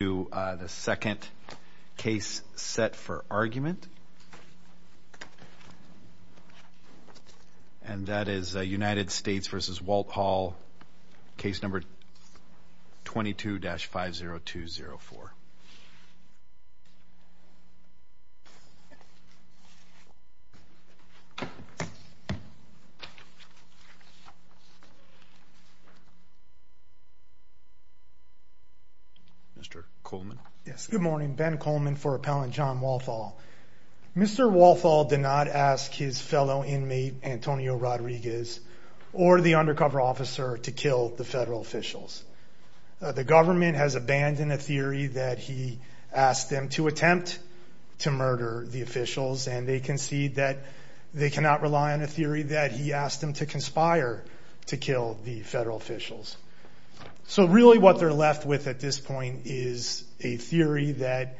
to the second case set for argument and that is United States v. Walthall case number 22-50204. Mr. Coleman, yes, good morning. Ben Coleman for appellant John Walthall. Mr. Walthall did not ask his fellow inmate Antonio Rodriguez or the undercover officer to kill the federal officials. The government has abandoned a theory that he asked them to attempt to murder the officials and they concede that they cannot rely on a theory that he asked them to conspire to kill the federal officials. So really what they're left with at this point is a theory that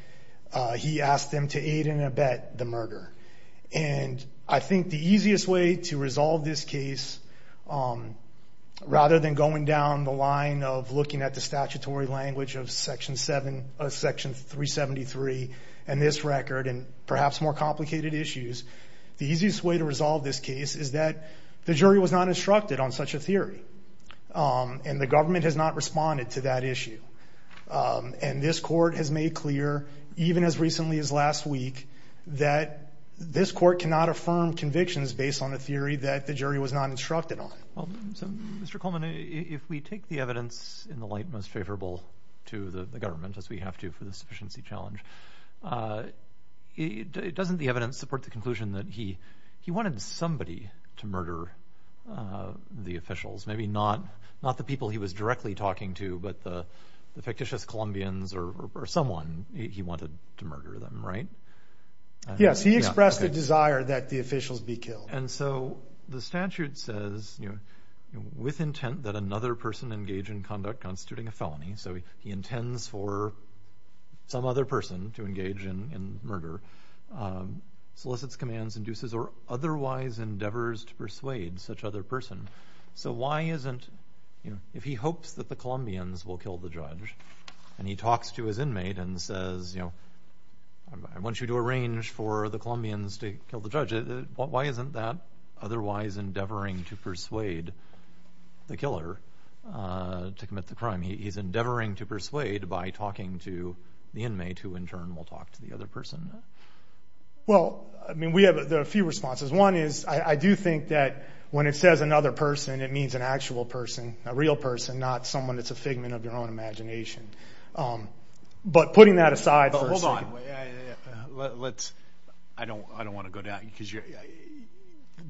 he asked them to aid and abet the murder. And I think the easiest way to resolve this case, rather than going down the line of looking at the statutory language of section 373 and this record and perhaps more complicated issues, the easiest way to resolve this case is that the jury was not instructed on such a theory. And the government has not responded to that issue. And this court has made clear, even as recently as last week, that this court cannot affirm convictions based on a theory that the jury was not instructed on. Well, Mr. Coleman, if we take the evidence in the light most favorable to the government, as we have to for the sufficiency challenge, doesn't the evidence support the conclusion that he wanted somebody to murder the officials? Maybe not the people he was directly talking to, but the fictitious Columbians or someone he wanted to murder them, right? Yes, he expressed a desire that the officials be killed. And so the statute says, with intent that another person engage in conduct constituting a felony, so he intends for some other person to engage in murder, solicits commands, induces or otherwise endeavors to persuade such other person. So why isn't, you know, if he hopes that the Columbians will kill the judge and he talks to his inmate and says, you know, I want you to arrange for the Columbians to kill the judge, why isn't that otherwise endeavoring to persuade the killer to commit the crime? He's endeavoring to persuade by talking to the inmate who in turn will talk to the other person. Well, I mean, we have a few responses. One is I do think that when it says another person, it means an actual person, a real person, not someone that's a figment of your own imagination. But putting that aside, let's I don't I don't want to go down because you're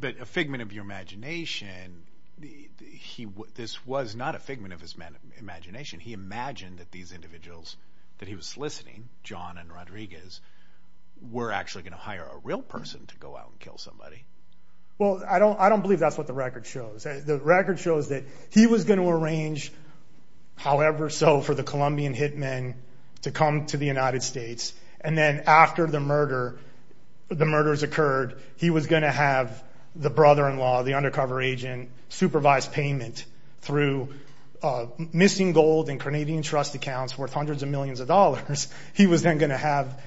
a figment of your imagination. He this was not a figment of his imagination. He imagined that these individuals that he was listening, John and Rodriguez, were actually going to hire a real person to go out and kill somebody. Well, I don't I don't believe that's what the record shows. The record shows that he was going to arrange, however, so for the Columbian hitmen to come to the United States and then after the murder, the murders occurred, he was going to have the brother in law, the undercover agent, supervised payment through missing gold and Canadian trust accounts worth hundreds of millions of dollars. He was then going to have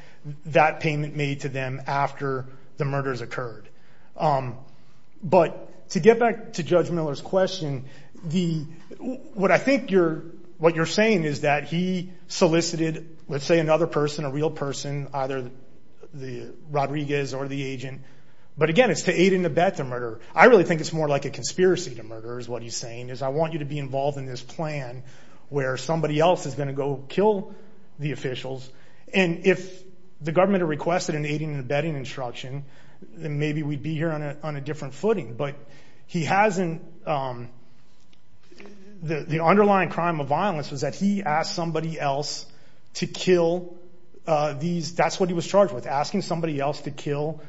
that payment made to them after the murders occurred. But to get back to Judge Miller's question, the what I think you're what you're saying is that he solicited, let's say, another person, a real person, either the Rodriguez or the agent. But again, it's to aid and abet the murder. I really think it's more like a conspiracy to murder is what he's saying is I want you to be involved in this plan where somebody else is going to go kill the officials. And if the government requested an aiding and abetting instruction, then maybe we'd be here on a different footing. But he hasn't. The underlying crime of violence was that he asked somebody else to kill these. That's what he was charged with, asking somebody else to kill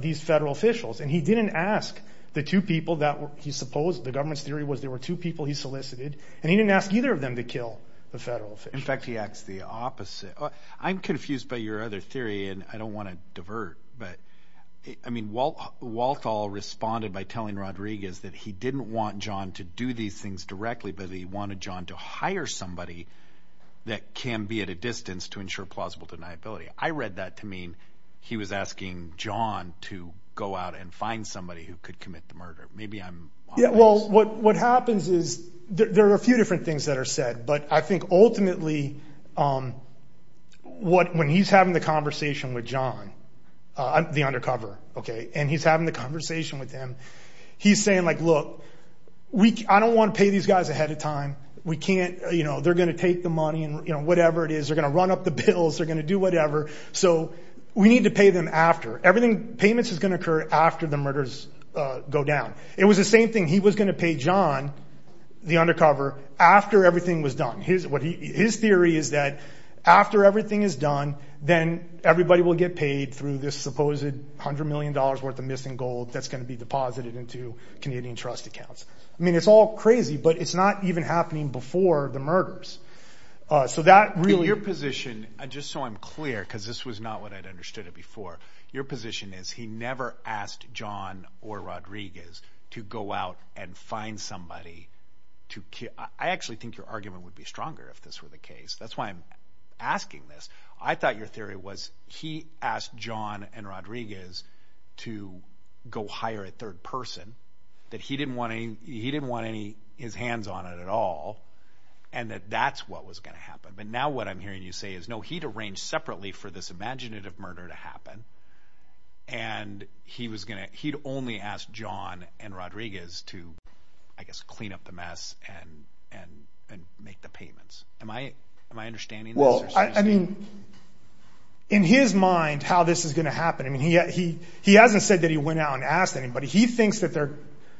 these federal officials. And he didn't ask the two people that he supposed the government's theory was there were two people he solicited, and he didn't ask either of them to kill the federal. In fact, he acts the opposite. I'm confused by your other theory, and I don't want to divert. But I mean, while Walthall responded by telling Rodriguez that he didn't want John to do these things directly, but he wanted John to hire somebody that can be at a distance to ensure plausible deniability. I read that to mean he was asking John to go out and find somebody who could commit the murder. Maybe I'm. Yeah, well, what what happens is there are a few different things that are said, but I think ultimately what when he's having the conversation with John, the undercover, OK, and he's having the conversation with him, he's saying, like, look, I don't want to pay these guys ahead of time. We can't. You know, they're going to take the money and whatever it is. They're going to run up the bills. They're going to do whatever. So we need to pay them after everything. Payments is going to occur after the murders go down. It was the same thing. He was going to pay John the undercover after everything was done. Here's what his theory is that after everything is done, then everybody will get paid through this supposed 100 million dollars worth of missing gold that's going to be deposited into Canadian trust accounts. I mean, it's all crazy, but it's not even happening before the murders. So that really your position, just so I'm clear, because this was not what I'd understood it before. Your position is he never asked John or Rodriguez to go out and find somebody to. I actually think your argument would be stronger if this were the case. That's why I'm asking this. I thought your theory was he asked John and Rodriguez to go hire a third person that he didn't want any. He didn't want any his hands on it at all and that that's what was going to happen. But now what I'm hearing you say is, no, he'd arranged separately for this imaginative murder to happen. And he was going to. He'd only asked John and Rodriguez to, I guess, clean up the mess and and and make the payments. Am I am I understanding? Well, I mean, in his mind, how this is going to happen. I mean, he he he hasn't said that he went out and asked anybody. He thinks that there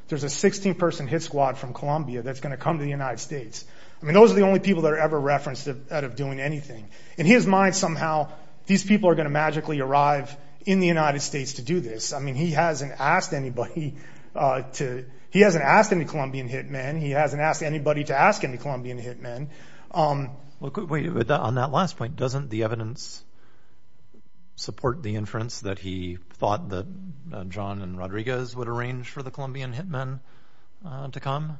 there's a 16 person hit squad from Columbia that's going to come to the United States. I mean, those are the only people that are ever referenced out of doing anything in his mind. Somehow these people are going to magically arrive in the United States to do this. I mean, he hasn't asked anybody to. He hasn't asked any Colombian hit men. He hasn't asked anybody to ask any Colombian hit men. Well, on that last point, doesn't the evidence support the inference that he thought that John and Rodriguez would arrange for the Colombian hit men to come?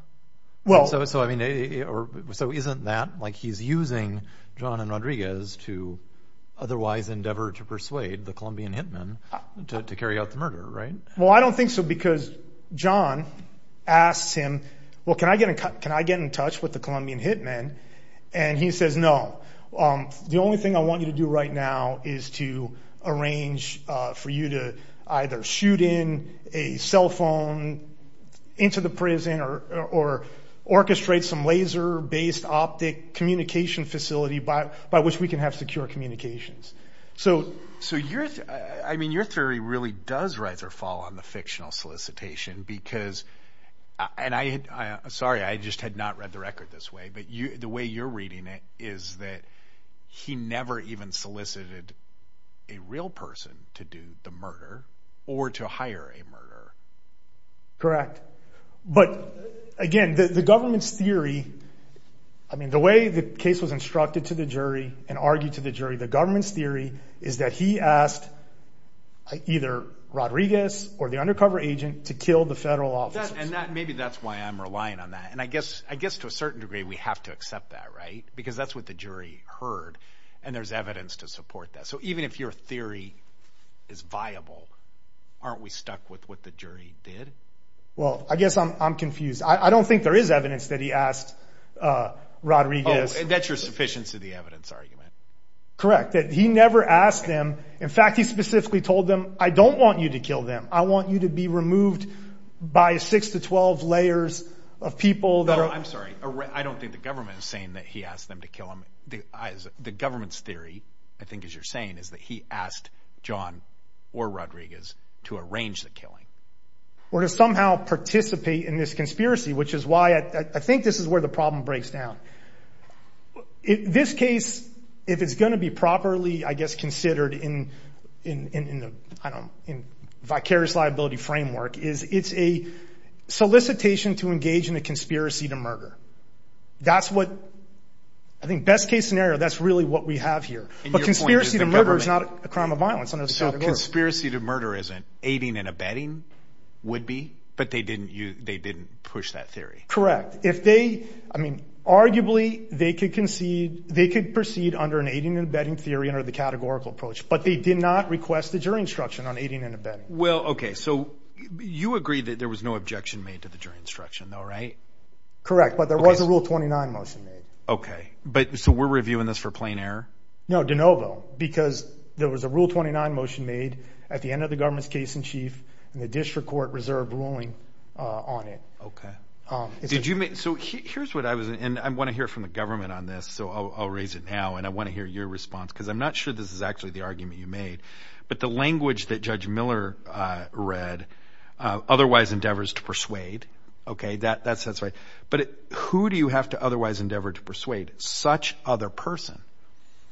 Well, so so I mean, so isn't that like he's using John and Rodriguez to otherwise endeavor to persuade the Colombian hit men to carry out the murder, right? Well, I don't think so, because John asks him, well, can I get can I get in touch with the Colombian hit men? And he says, no, the only thing I want you to do right now is to arrange for you to either shoot in a cell phone into the prison or orchestrate some laser based optic communication facility by by which we can have secure communications. So so you're I mean, your theory really does rise or fall on the fictional solicitation, because and I sorry, I just had not read the record this way. But the way you're reading it is that he never even solicited a real person to do the murder or to hire a murderer. Correct. But again, the government's theory, I mean, the way the case was instructed to the jury and argued to the jury, the government's theory is that he asked either Rodriguez or the undercover agent to kill the federal office. And that maybe that's why I'm relying on that. And I guess I guess to a certain degree, we have to accept that, right? Because that's what the jury heard. And there's evidence to support that. So even if your theory is viable, aren't we stuck with what the jury heard? Well, I guess I'm confused. I don't think there is evidence that he asked Rodriguez. That's your sufficiency of the evidence argument. Correct. He never asked them. In fact, he specifically told them, I don't want you to kill them. I want you to be removed by six to 12 layers of people that are I'm sorry, I don't think the government is saying that he asked them to kill him. The government's theory, I think, as you're saying, is that he asked John or Rodriguez to arrange the killing. Or to somehow participate in this conspiracy, which is why I think this is where the problem breaks down. In this case, if it's going to be properly, I guess, considered in the vicarious liability framework is it's a solicitation to engage in a conspiracy to murder. That's what I think best case scenario. That's really what we have here. But conspiracy to murder is not a crime of violence. Conspiracy to murder isn't aiding and abetting would be, but they didn't. They didn't push that theory. Correct. If they, I mean, arguably they could concede they could proceed under an aiding and abetting theory under the categorical approach, but they did not request the jury instruction on aiding and abetting. Well, OK, so you agree that there was no objection made to the jury instruction, though, right? Correct. But there was a rule 29 motion made. OK, but so we're reviewing this for plain error. No, de novo, because there was a rule 29 motion made at the end of the government's case in chief and the district court reserved ruling on it. OK, did you make? So here's what I was. And I want to hear from the government on this. So I'll raise it now. And I want to hear your response, because I'm not sure this is actually the argument you made. But the language that Judge Miller read otherwise endeavors to persuade. OK, that that's that's right. But who do you have to otherwise endeavor to persuade such other person?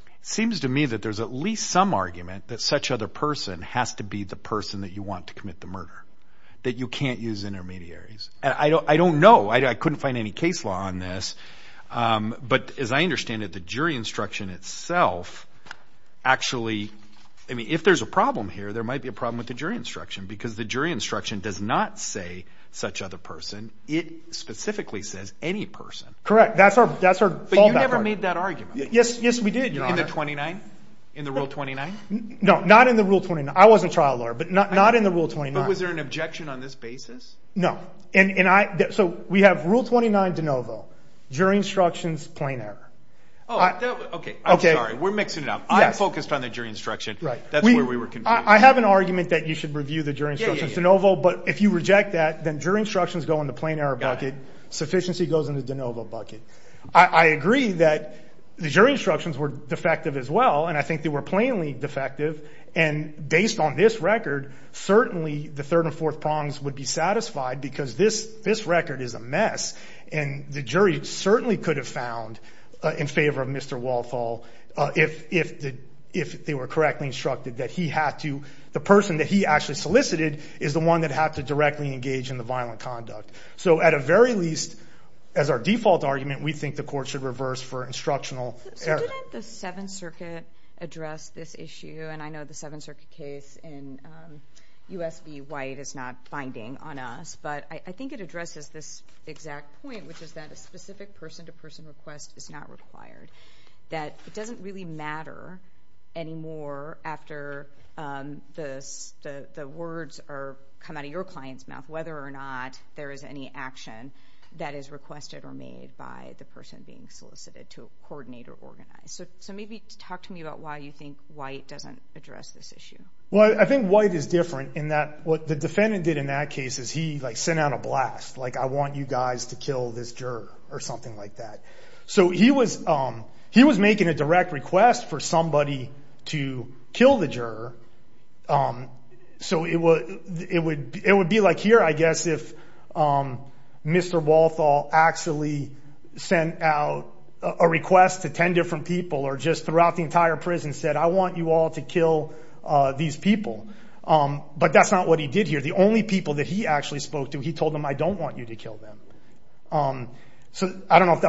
It seems to me that there's at least some argument that such other person has to be the person that you want to commit the murder that you can't use intermediaries. And I don't I don't know. I couldn't find any case law on this. But as I understand it, the jury instruction itself actually. I mean, if there's a problem here, there might be a problem with the jury instruction because the jury instruction does not say such other person. It specifically says any person. Correct. That's our that's our. But you never made that argument. Yes, yes, we did. You're under 29 in the rule. Twenty nine. No, not in the rule. Twenty nine. I was a trial lawyer, but not not in the rule. Twenty nine. Was there an objection on this basis? No. And I. So we have rule 29 de novo jury instructions, plain error. Oh, OK. OK. We're mixing it up. I'm focused on the jury instruction. Right. That's where we were. I have an argument that you should review the jury instructions de novo. But if you reject that, then jury instructions go in the plain error bucket. Sufficiency goes into de novo. I agree that the jury instructions were defective as well. And I think they were plainly defective. And based on this record, certainly the third and fourth prongs would be satisfied because this this record is a mess. And the jury certainly could have found in favor of Mr. Walthall if if if they were correctly instructed that he had to. The person that he actually solicited is the one that had to directly engage in the violent conduct. So at a very least, as our default argument, we think the court should reverse for instructional error. So didn't the Seventh Circuit address this issue? And I know the Seventh Circuit case in U.S. v. White is not binding on us, but I think it addresses this exact point, which is that a specific person to person request is not required. That it doesn't really matter anymore after the words come out of your client's mouth, whether or not there is an action that is requested or made by the person being solicited to coordinate or organize. So maybe talk to me about why you think White doesn't address this issue. Well, I think White is different in that what the defendant did in that case is he like sent out a blast like I want you guys to kill this juror or something like that. So he was he was making a direct request for somebody to kill the juror. So it would it would it would be like here, I guess, if Mr. Walthall actually sent out a request to 10 different people or just throughout the entire prison said, I want you all to kill these people. But that's not what he did here. The only people that he actually spoke to, he told them, I don't want you to kill them. I don't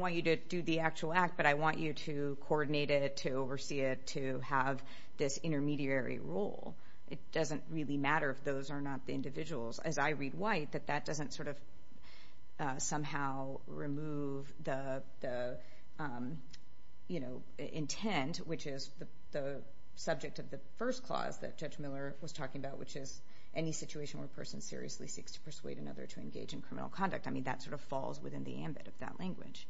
want you to do the actual act, but I want you to coordinate it, to oversee it, to have this intermediary role. It doesn't really matter if those are not the individuals. As I read White, that that doesn't sort of somehow remove the, you know, intent, which is the subject of the first clause that Judge Miller was talking about, which is any situation where a person seriously seeks to persuade another to engage. In criminal conduct, I mean, that sort of falls within the ambit of that language.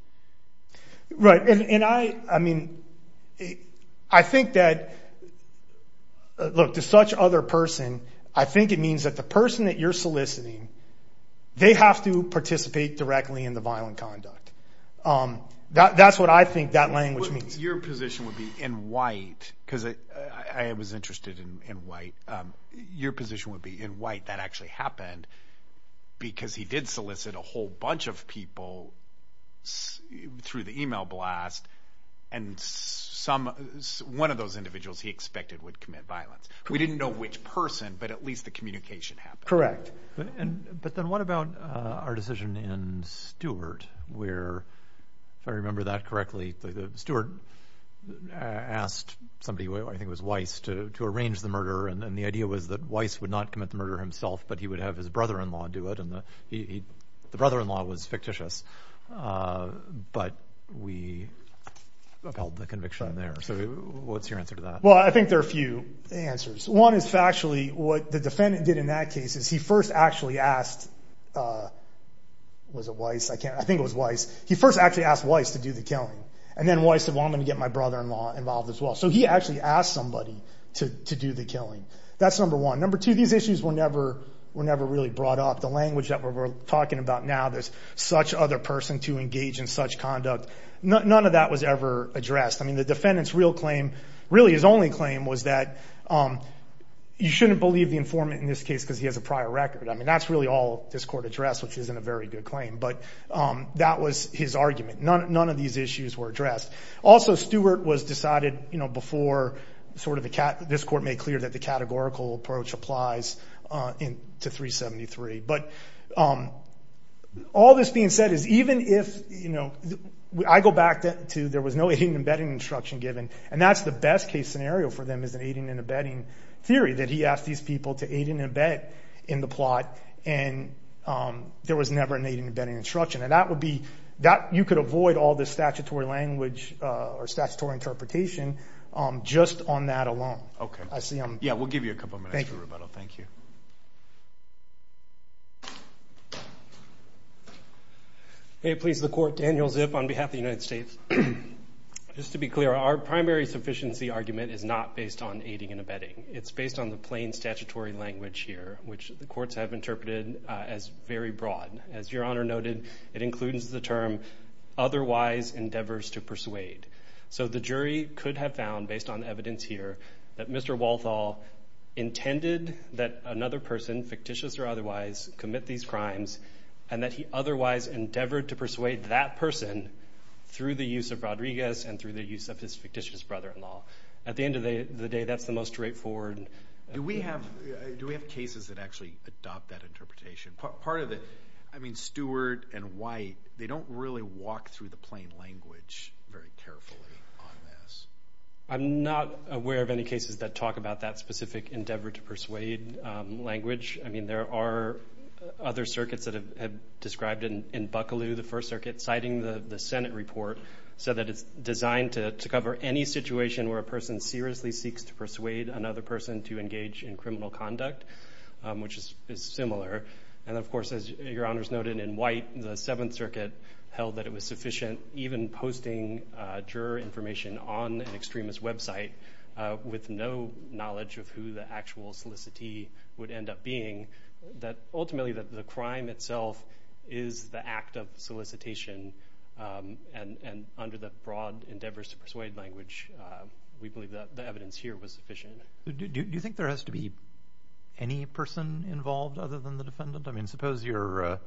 Right. And I I mean, I think that look to such other person. I think it means that the person that you're soliciting, they have to participate directly in the violent conduct. That's what I think that language means. Your position would be in White because I was interested in White. Your position would be in White. That actually happened because he did solicit a whole bunch of people through the email blast. And some one of those individuals he expected would commit violence. We didn't know which person, but at least the communication happened. But then what about our decision in Stewart where, if I remember that correctly, Stewart asked somebody, I think it was Weiss, to arrange the murder. And the idea was that Weiss would not commit the murder himself, but he would have his brother-in-law do it. And the brother-in-law was fictitious. But we upheld the conviction there. So what's your answer to that? Well, I think there are a few answers. One is factually what the defendant did in that case is he first actually asked, was it Weiss? I think it was Weiss. He first actually asked Weiss to do the killing. And then Weiss said, well, I'm going to get my brother-in-law involved as well. So he actually asked somebody to do the killing. That's number one. Number two, these issues were never really brought up. The language that we're talking about now, there's such other person to engage in such conduct. None of that was ever addressed. I mean, the defendant's real claim, really his only claim, was that you shouldn't believe the informant in this case because he has a prior record. I mean, that's really all this court addressed, which isn't a very good claim. But that was his argument. None of these issues were addressed. Also, Stewart was decided before this court made clear that the categorical approach applies to 373. But all this being said is even if I go back to there was no aiding and abetting instruction given, and that's the best case scenario for them is an aiding and abetting theory, that he asked these people to aid and abet in the plot and there was never an aiding and abetting instruction. You could avoid all this statutory language or statutory interpretation just on that alone. Okay. Yeah, we'll give you a couple minutes for rebuttal. Thank you. Hey, please. The court, Daniel Zip on behalf of the United States. Just to be clear, our primary sufficiency argument is not based on aiding and abetting. It's based on the plain statutory language here, which the courts have interpreted as very broad. As Your Honor noted, it includes the term otherwise endeavors to persuade. So the jury could have found based on evidence here that Mr. Walthall intended that another person, fictitious or otherwise, commit these crimes and that he otherwise endeavored to persuade that person through the use of Rodriguez and through the use of his fictitious brother-in-law. At the end of the day, that's the most straightforward. Do we have cases that actually adopt that interpretation? I mean, Stewart and White, they don't really walk through the plain language very carefully on this. I'm not aware of any cases that talk about that specific endeavor to persuade language. I mean, there are other circuits that have described in Bucklew, the First Circuit, citing the Senate report, said that it's designed to cover any situation where a person seriously seeks to persuade another person to engage in criminal conduct, which is similar. And of course, as Your Honor's noted, in White, the Seventh Circuit held that it was sufficient, even posting juror information on an extremist website with no knowledge of who the actual solicitee would end up being, that ultimately the crime itself is the act of solicitation. And under the broad endeavors to persuade language, we believe that the evidence here was sufficient. Do you think there has to be any person involved other than the defendant? I mean, suppose the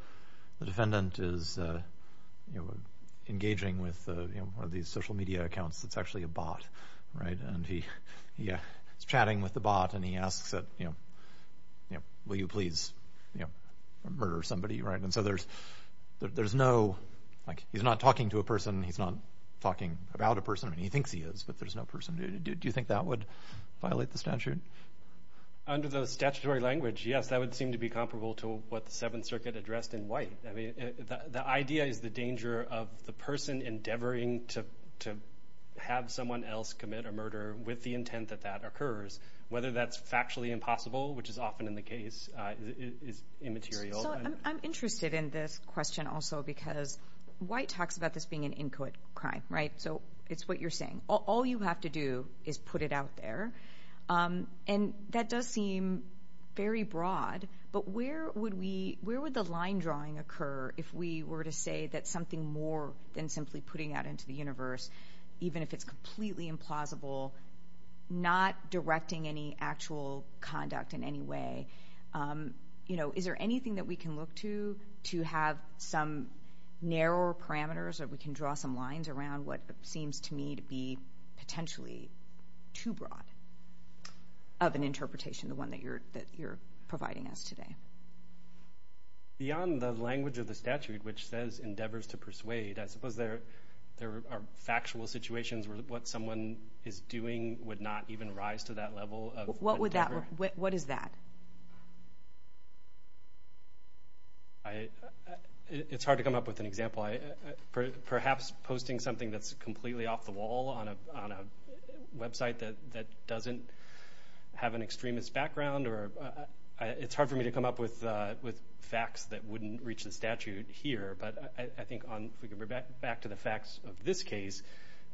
defendant is engaging with one of these social media accounts that's actually a bot, right? And he's chatting with the bot, and he asks, will you please murder somebody, right? And so there's no, like, he's not talking to a person, he's not talking about a person. I mean, he thinks he is, but there's no person. Do you think that would violate the statute? Under the statutory language, yes, that would seem to be comparable to what the Seventh Circuit addressed in White. I mean, the idea is the danger of the person endeavoring to have someone else commit a murder with the intent that that occurs, whether that's factually impossible, which is often in the case, is immaterial. So I'm interested in this question also because White talks about this being an inchoate crime, right? So it's what you're saying. All you have to do is put it out there. And that does seem very broad, but where would we, where would the line drawing occur if we were to say that something more than simply putting that into the universe, even if it's completely implausible, not directing any actual conduct in any way? You know, is there anything that we can look to to have some narrower parameters that we can draw some lines around what seems to me to be potentially too broad of an interpretation, the one that you're providing us today? Beyond the language of the statute, which says endeavors to persuade, I suppose there are factual situations where what someone is doing would not even rise to that level. What would that, what is that? It's hard to come up with an example. Perhaps posting something that's completely off the wall on a website that doesn't have an extremist background, or it's hard for me to come up with facts that wouldn't reach the statute here. But I think on, if we can go back to the facts of this case,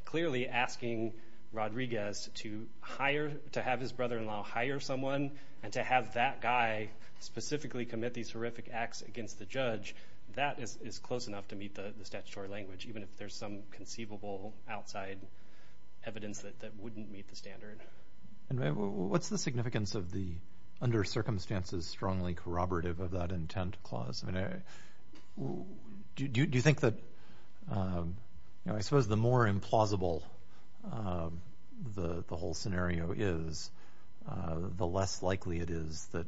clearly asking Rodriguez to hire, to have his brother-in-law hire someone, and to have that guy specifically commit these horrific acts against the judge, that is close enough to meet the statutory language, even if there's some conceivable outside evidence that wouldn't meet the standard. What's the significance of the under circumstances strongly corroborative of that intent clause? I mean, do you think that, you know, I suppose the more implausible the whole scenario is, the less likely it is that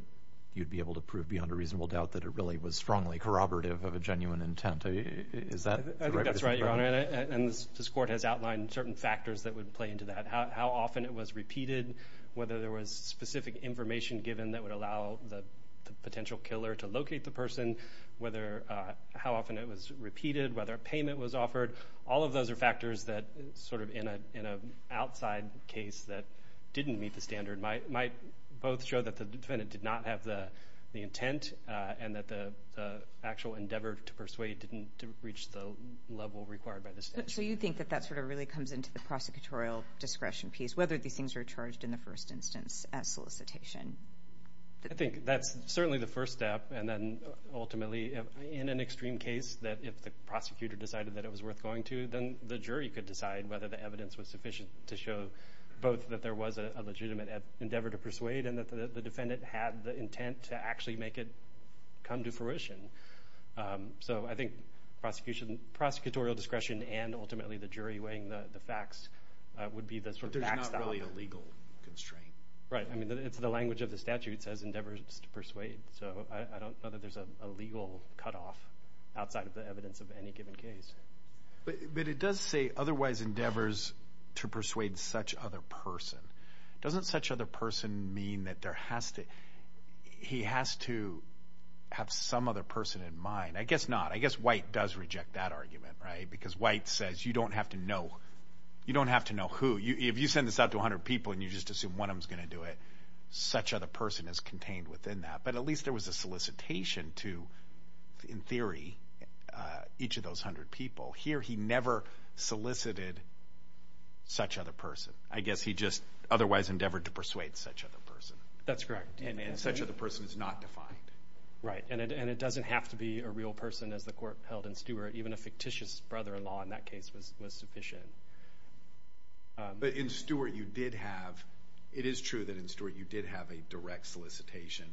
you'd be able to prove beyond a reasonable doubt that it really was strongly corroborative of a genuine intent. I think that's right, Your Honor, and this court has outlined certain factors that would play into that. How often it was repeated, whether there was specific information given that would allow the potential killer to locate the person, whether, how often it was repeated, whether a payment was offered. All of those are factors that sort of in an outside case that didn't meet the standard might both show that the defendant did not have the intent and that the actual endeavor to persuade didn't reach the level required by the statute. So you think that that sort of really comes into the prosecutorial discretion piece, whether these things were charged in the first instance at solicitation? I think that's certainly the first step, and then ultimately in an extreme case that if the prosecutor decided that it was worth going to, then the jury could decide whether the evidence was sufficient to show both that there was a legitimate endeavor to persuade and that the defendant had the intent to actually make it come to fruition. So I think prosecutorial discretion and ultimately the jury weighing the facts would be the sort of backstop. But there's not really a legal constraint. Right. I mean, it's the language of the statute says endeavors to persuade, so I don't know that there's a legal cutoff outside of the evidence of any given case. But it does say otherwise endeavors to persuade such other person. Doesn't such other person mean that there has to – he has to have some other person in mind? I guess not. I guess White does reject that argument, right, because White says you don't have to know. You don't have to know who. If you send this out to 100 people and you just assume one of them is going to do it, such other person is contained within that. But at least there was a solicitation to, in theory, each of those 100 people. Here he never solicited such other person. I guess he just otherwise endeavored to persuade such other person. That's correct. And such other person is not defined. Right. And it doesn't have to be a real person, as the court held in Stewart. Even a fictitious brother-in-law in that case was sufficient. But in Stewart you did have – it is true that in Stewart you did have a direct solicitation.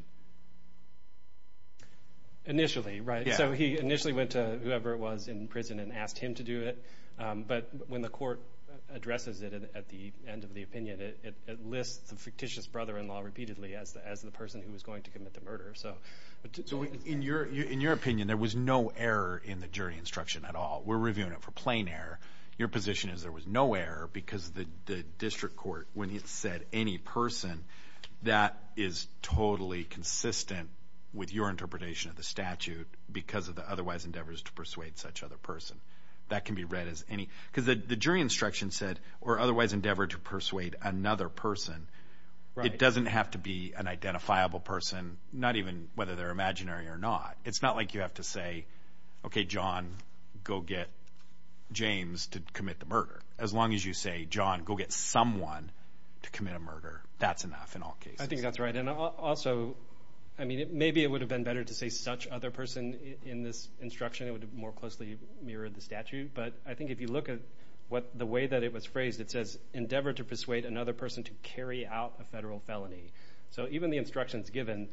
Initially, right. So he initially went to whoever it was in prison and asked him to do it. But when the court addresses it at the end of the opinion, it lists the fictitious brother-in-law repeatedly as the person who was going to commit the murder. In your opinion, there was no error in the jury instruction at all. We're reviewing it for plain error. Your position is there was no error because the district court, when it said any person, that is totally consistent with your interpretation of the statute because of the otherwise endeavors to persuade such other person. That can be read as any – because the jury instruction said, or otherwise endeavored to persuade another person. It doesn't have to be an identifiable person, not even whether they're imaginary or not. It's not like you have to say, okay, John, go get James to commit the murder. As long as you say, John, go get someone to commit a murder, that's enough in all cases. I think that's right. And also, I mean, maybe it would have been better to say such other person in this instruction. It would have more closely mirrored the statute. But I think if you look at the way that it was phrased, it says endeavor to persuade another person to carry out a federal felony. So even the instructions given,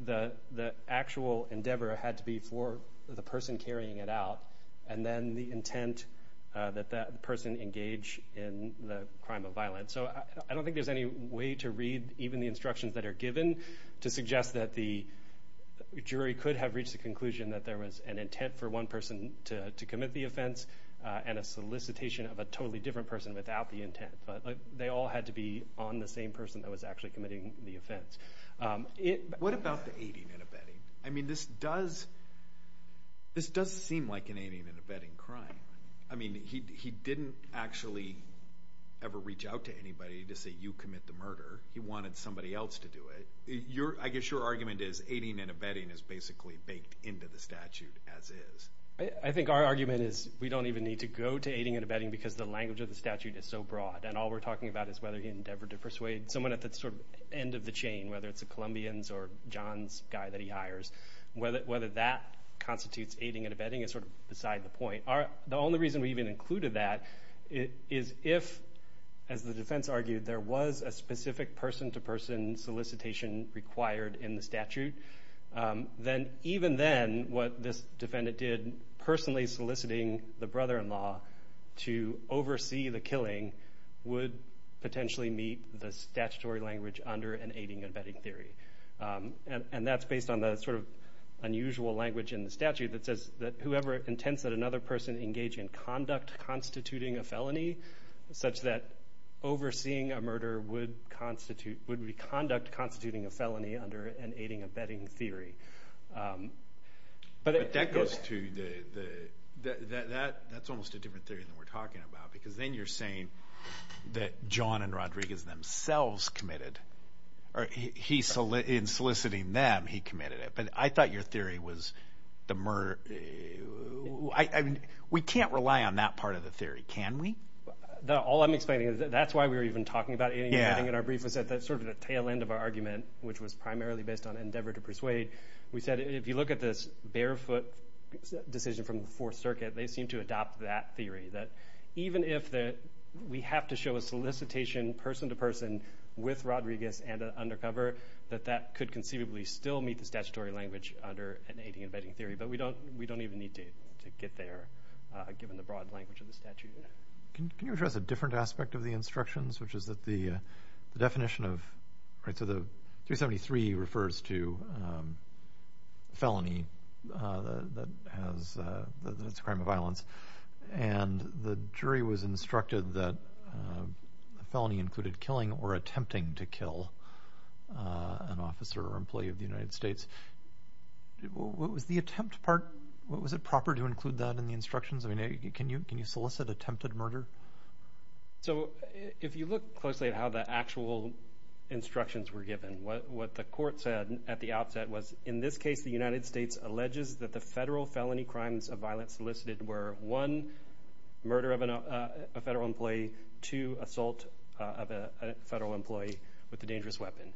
the actual endeavor had to be for the person carrying it out and then the intent that that person engage in the crime of violence. So I don't think there's any way to read even the instructions that are given to suggest that the jury could have reached the conclusion that there was an intent for one person to commit the offense and a solicitation of a totally different person without the intent. But they all had to be on the same person that was actually committing the offense. What about the aiding and abetting? I mean, this does seem like an aiding and abetting crime. I mean, he didn't actually ever reach out to anybody to say, you commit the murder. He wanted somebody else to do it. I guess your argument is aiding and abetting is basically baked into the statute as is. I think our argument is we don't even need to go to aiding and abetting because the language of the statute is so broad. And all we're talking about is whether he endeavored to persuade someone at the sort of end of the chain, whether it's the Columbians or John's guy that he hires. Whether that constitutes aiding and abetting is sort of beside the point. The only reason we even included that is if, as the defense argued, there was a specific person-to-person solicitation required in the statute, then even then what this defendant did personally soliciting the brother-in-law to oversee the killing would potentially meet the statutory language under an aiding and abetting theory. And that's based on the sort of unusual language in the statute that says that it's never intense that another person engage in conduct constituting a felony such that overseeing a murder would be conduct constituting a felony under an aiding and abetting theory. But that goes to the – that's almost a different theory than we're talking about because then you're saying that John and Rodriguez themselves committed – in soliciting them, he committed it. But I thought your theory was the murder – I mean, we can't rely on that part of the theory, can we? All I'm explaining is that's why we were even talking about aiding and abetting in our brief was sort of the tail end of our argument, which was primarily based on endeavor to persuade. We said if you look at this barefoot decision from the Fourth Circuit, they seem to adopt that theory, that even if we have to show a solicitation person-to-person with Rodriguez and an undercover, that that could conceivably still meet the statutory language under an aiding and abetting theory. But we don't even need to get there given the broad language of the statute. Can you address a different aspect of the instructions, which is that the definition of – so the 373 refers to felony that has – that's a crime of violence. And the jury was instructed that a felony included killing or attempting to kill an officer or employee of the United States. Was the attempt part – was it proper to include that in the instructions? I mean, can you solicit attempted murder? So if you look closely at how the actual instructions were given, what the court said at the outset was, in this case, the United States alleges that the federal felony crimes of violence solicited were, one, murder of a federal employee, two, assault of a federal employee with a dangerous weapon.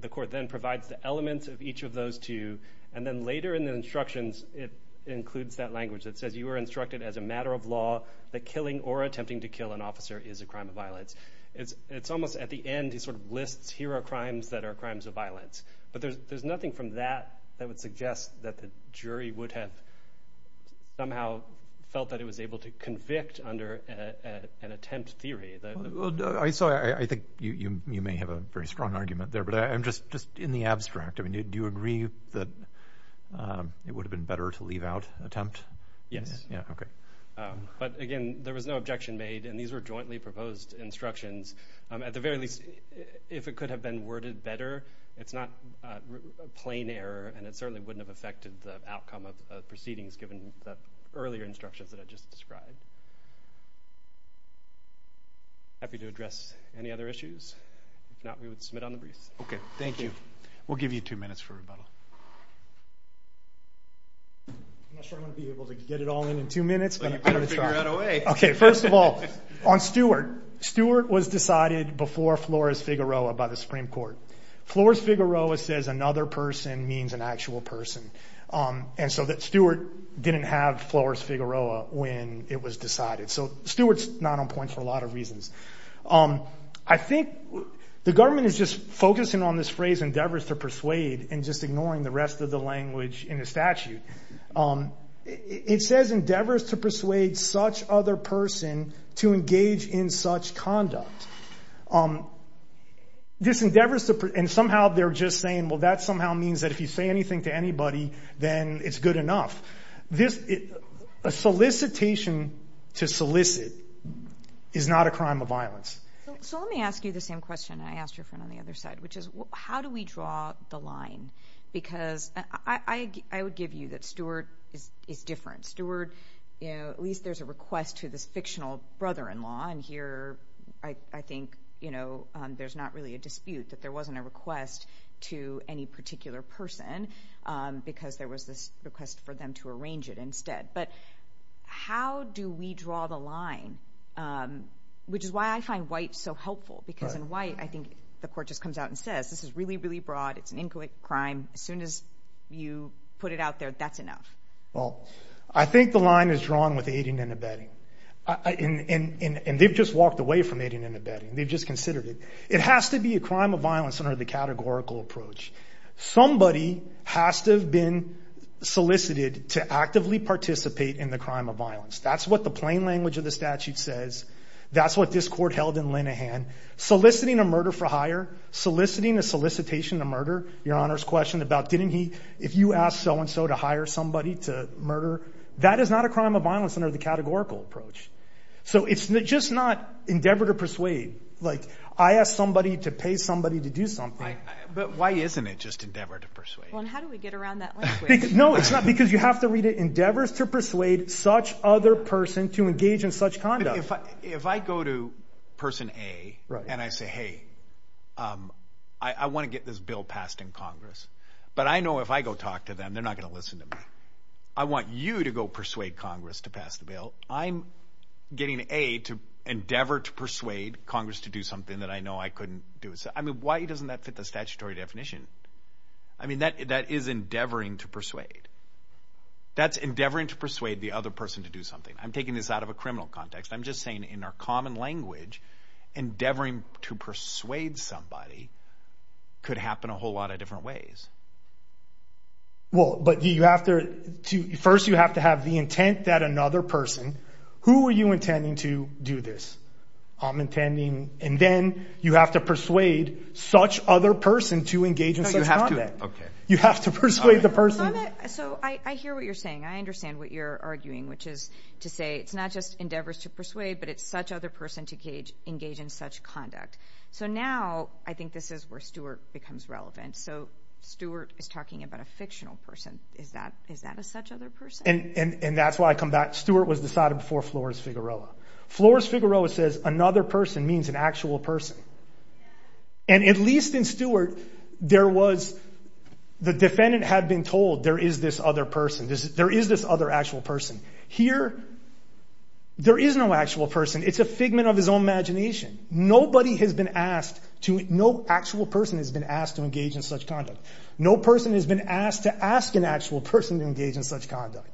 The court then provides the elements of each of those two, and then later in the instructions it includes that language that says, you are instructed as a matter of law that killing or attempting to kill an officer is a crime of violence. It's almost at the end it sort of lists, here are crimes that are crimes of violence. But there's nothing from that that would suggest that the jury would have somehow felt that it was able to convict under an attempt theory. I think you may have a very strong argument there, but just in the abstract, do you agree that it would have been better to leave out attempt? Yes. Okay. But, again, there was no objection made, and these were jointly proposed instructions. At the very least, if it could have been worded better, it's not a plain error, and it certainly wouldn't have affected the outcome of proceedings given the earlier instructions that I just described. Happy to address any other issues? If not, we would submit on the briefs. Okay. Thank you. We'll give you two minutes for rebuttal. I'm not sure I'm going to be able to get it all in in two minutes. Well, you better figure out a way. Okay. First of all, on Stewart, Stewart was decided before Flores-Figueroa by the Supreme Court. Flores-Figueroa says another person means an actual person, and so Stewart didn't have Flores-Figueroa when it was decided. So Stewart's not on point for a lot of reasons. I think the government is just focusing on this phrase, endeavors to persuade, and just ignoring the rest of the language in the statute. It says endeavors to persuade such other person to engage in such conduct. This endeavors to persuade, and somehow they're just saying, well, that somehow means that if you say anything to anybody, then it's good enough. A solicitation to solicit is not a crime of violence. So let me ask you the same question I asked your friend on the other side, which is how do we draw the line? Because I would give you that Stewart is different. Stewart, at least there's a request to this fictional brother-in-law, and here I think there's not really a dispute that there wasn't a request to any particular person because there was this request for them to arrange it instead. But how do we draw the line, which is why I find White so helpful, because in White I think the court just comes out and says this is really, really broad. It's an incoherent crime. As soon as you put it out there, that's enough. Well, I think the line is drawn with aiding and abetting, and they've just walked away from aiding and abetting. They've just considered it. It has to be a crime of violence under the categorical approach. Somebody has to have been solicited to actively participate in the crime of violence. That's what the plain language of the statute says. That's what this court held in Linehan. Soliciting a murder for hire, soliciting a solicitation to murder, Your Honor's question about didn't he, if you asked so-and-so to hire somebody to murder, that is not a crime of violence under the categorical approach. So it's just not endeavor to persuade. Like I asked somebody to pay somebody to do something. But why isn't it just endeavor to persuade? Well, and how do we get around that language? No, it's not, because you have to read it, endeavors to persuade such other person to engage in such conduct. If I go to person A and I say, hey, I want to get this bill passed in Congress, but I know if I go talk to them, they're not going to listen to me. I want you to go persuade Congress to pass the bill. I'm getting A to endeavor to persuade Congress to do something that I know I couldn't do. I mean, why doesn't that fit the statutory definition? I mean, that is endeavoring to persuade. That's endeavoring to persuade the other person to do something. I'm taking this out of a criminal context. I'm just saying in our common language, endeavoring to persuade somebody could happen a whole lot of different ways. Well, but you have to first you have to have the intent that another person, who are you intending to do this? I'm intending, and then you have to persuade such other person to engage in such conduct. You have to persuade the person. So I hear what you're saying. I understand what you're arguing, which is to say it's not just endeavors to persuade, but it's such other person to engage in such conduct. So now I think this is where Stewart becomes relevant. So Stewart is talking about a fictional person. Is that a such other person? And that's why I come back. Stewart was decided before Flores Figueroa. Flores Figueroa says another person means an actual person. And at least in Stewart, there was the defendant had been told there is this other person. There is this other actual person. Here, there is no actual person. It's a figment of his own imagination. Nobody has been asked to no actual person has been asked to engage in such conduct. No person has been asked to ask an actual person to engage in such conduct.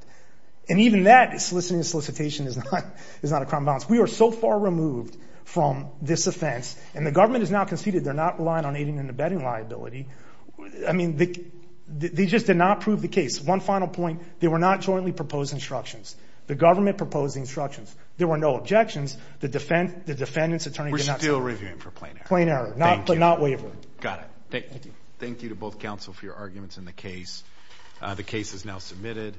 And even that, soliciting a solicitation, is not a crime of violence. We are so far removed from this offense, and the government has now conceded they're not relying on aiding and abetting liability. I mean, they just did not prove the case. One final point. They were not jointly proposed instructions. The government proposed the instructions. There were no objections. The defendant's attorney did not say anything. We're still reviewing for plain error. Plain error, but not waiver. Got it. Thank you. Thank you to both counsel for your arguments in the case. The case is now submitted.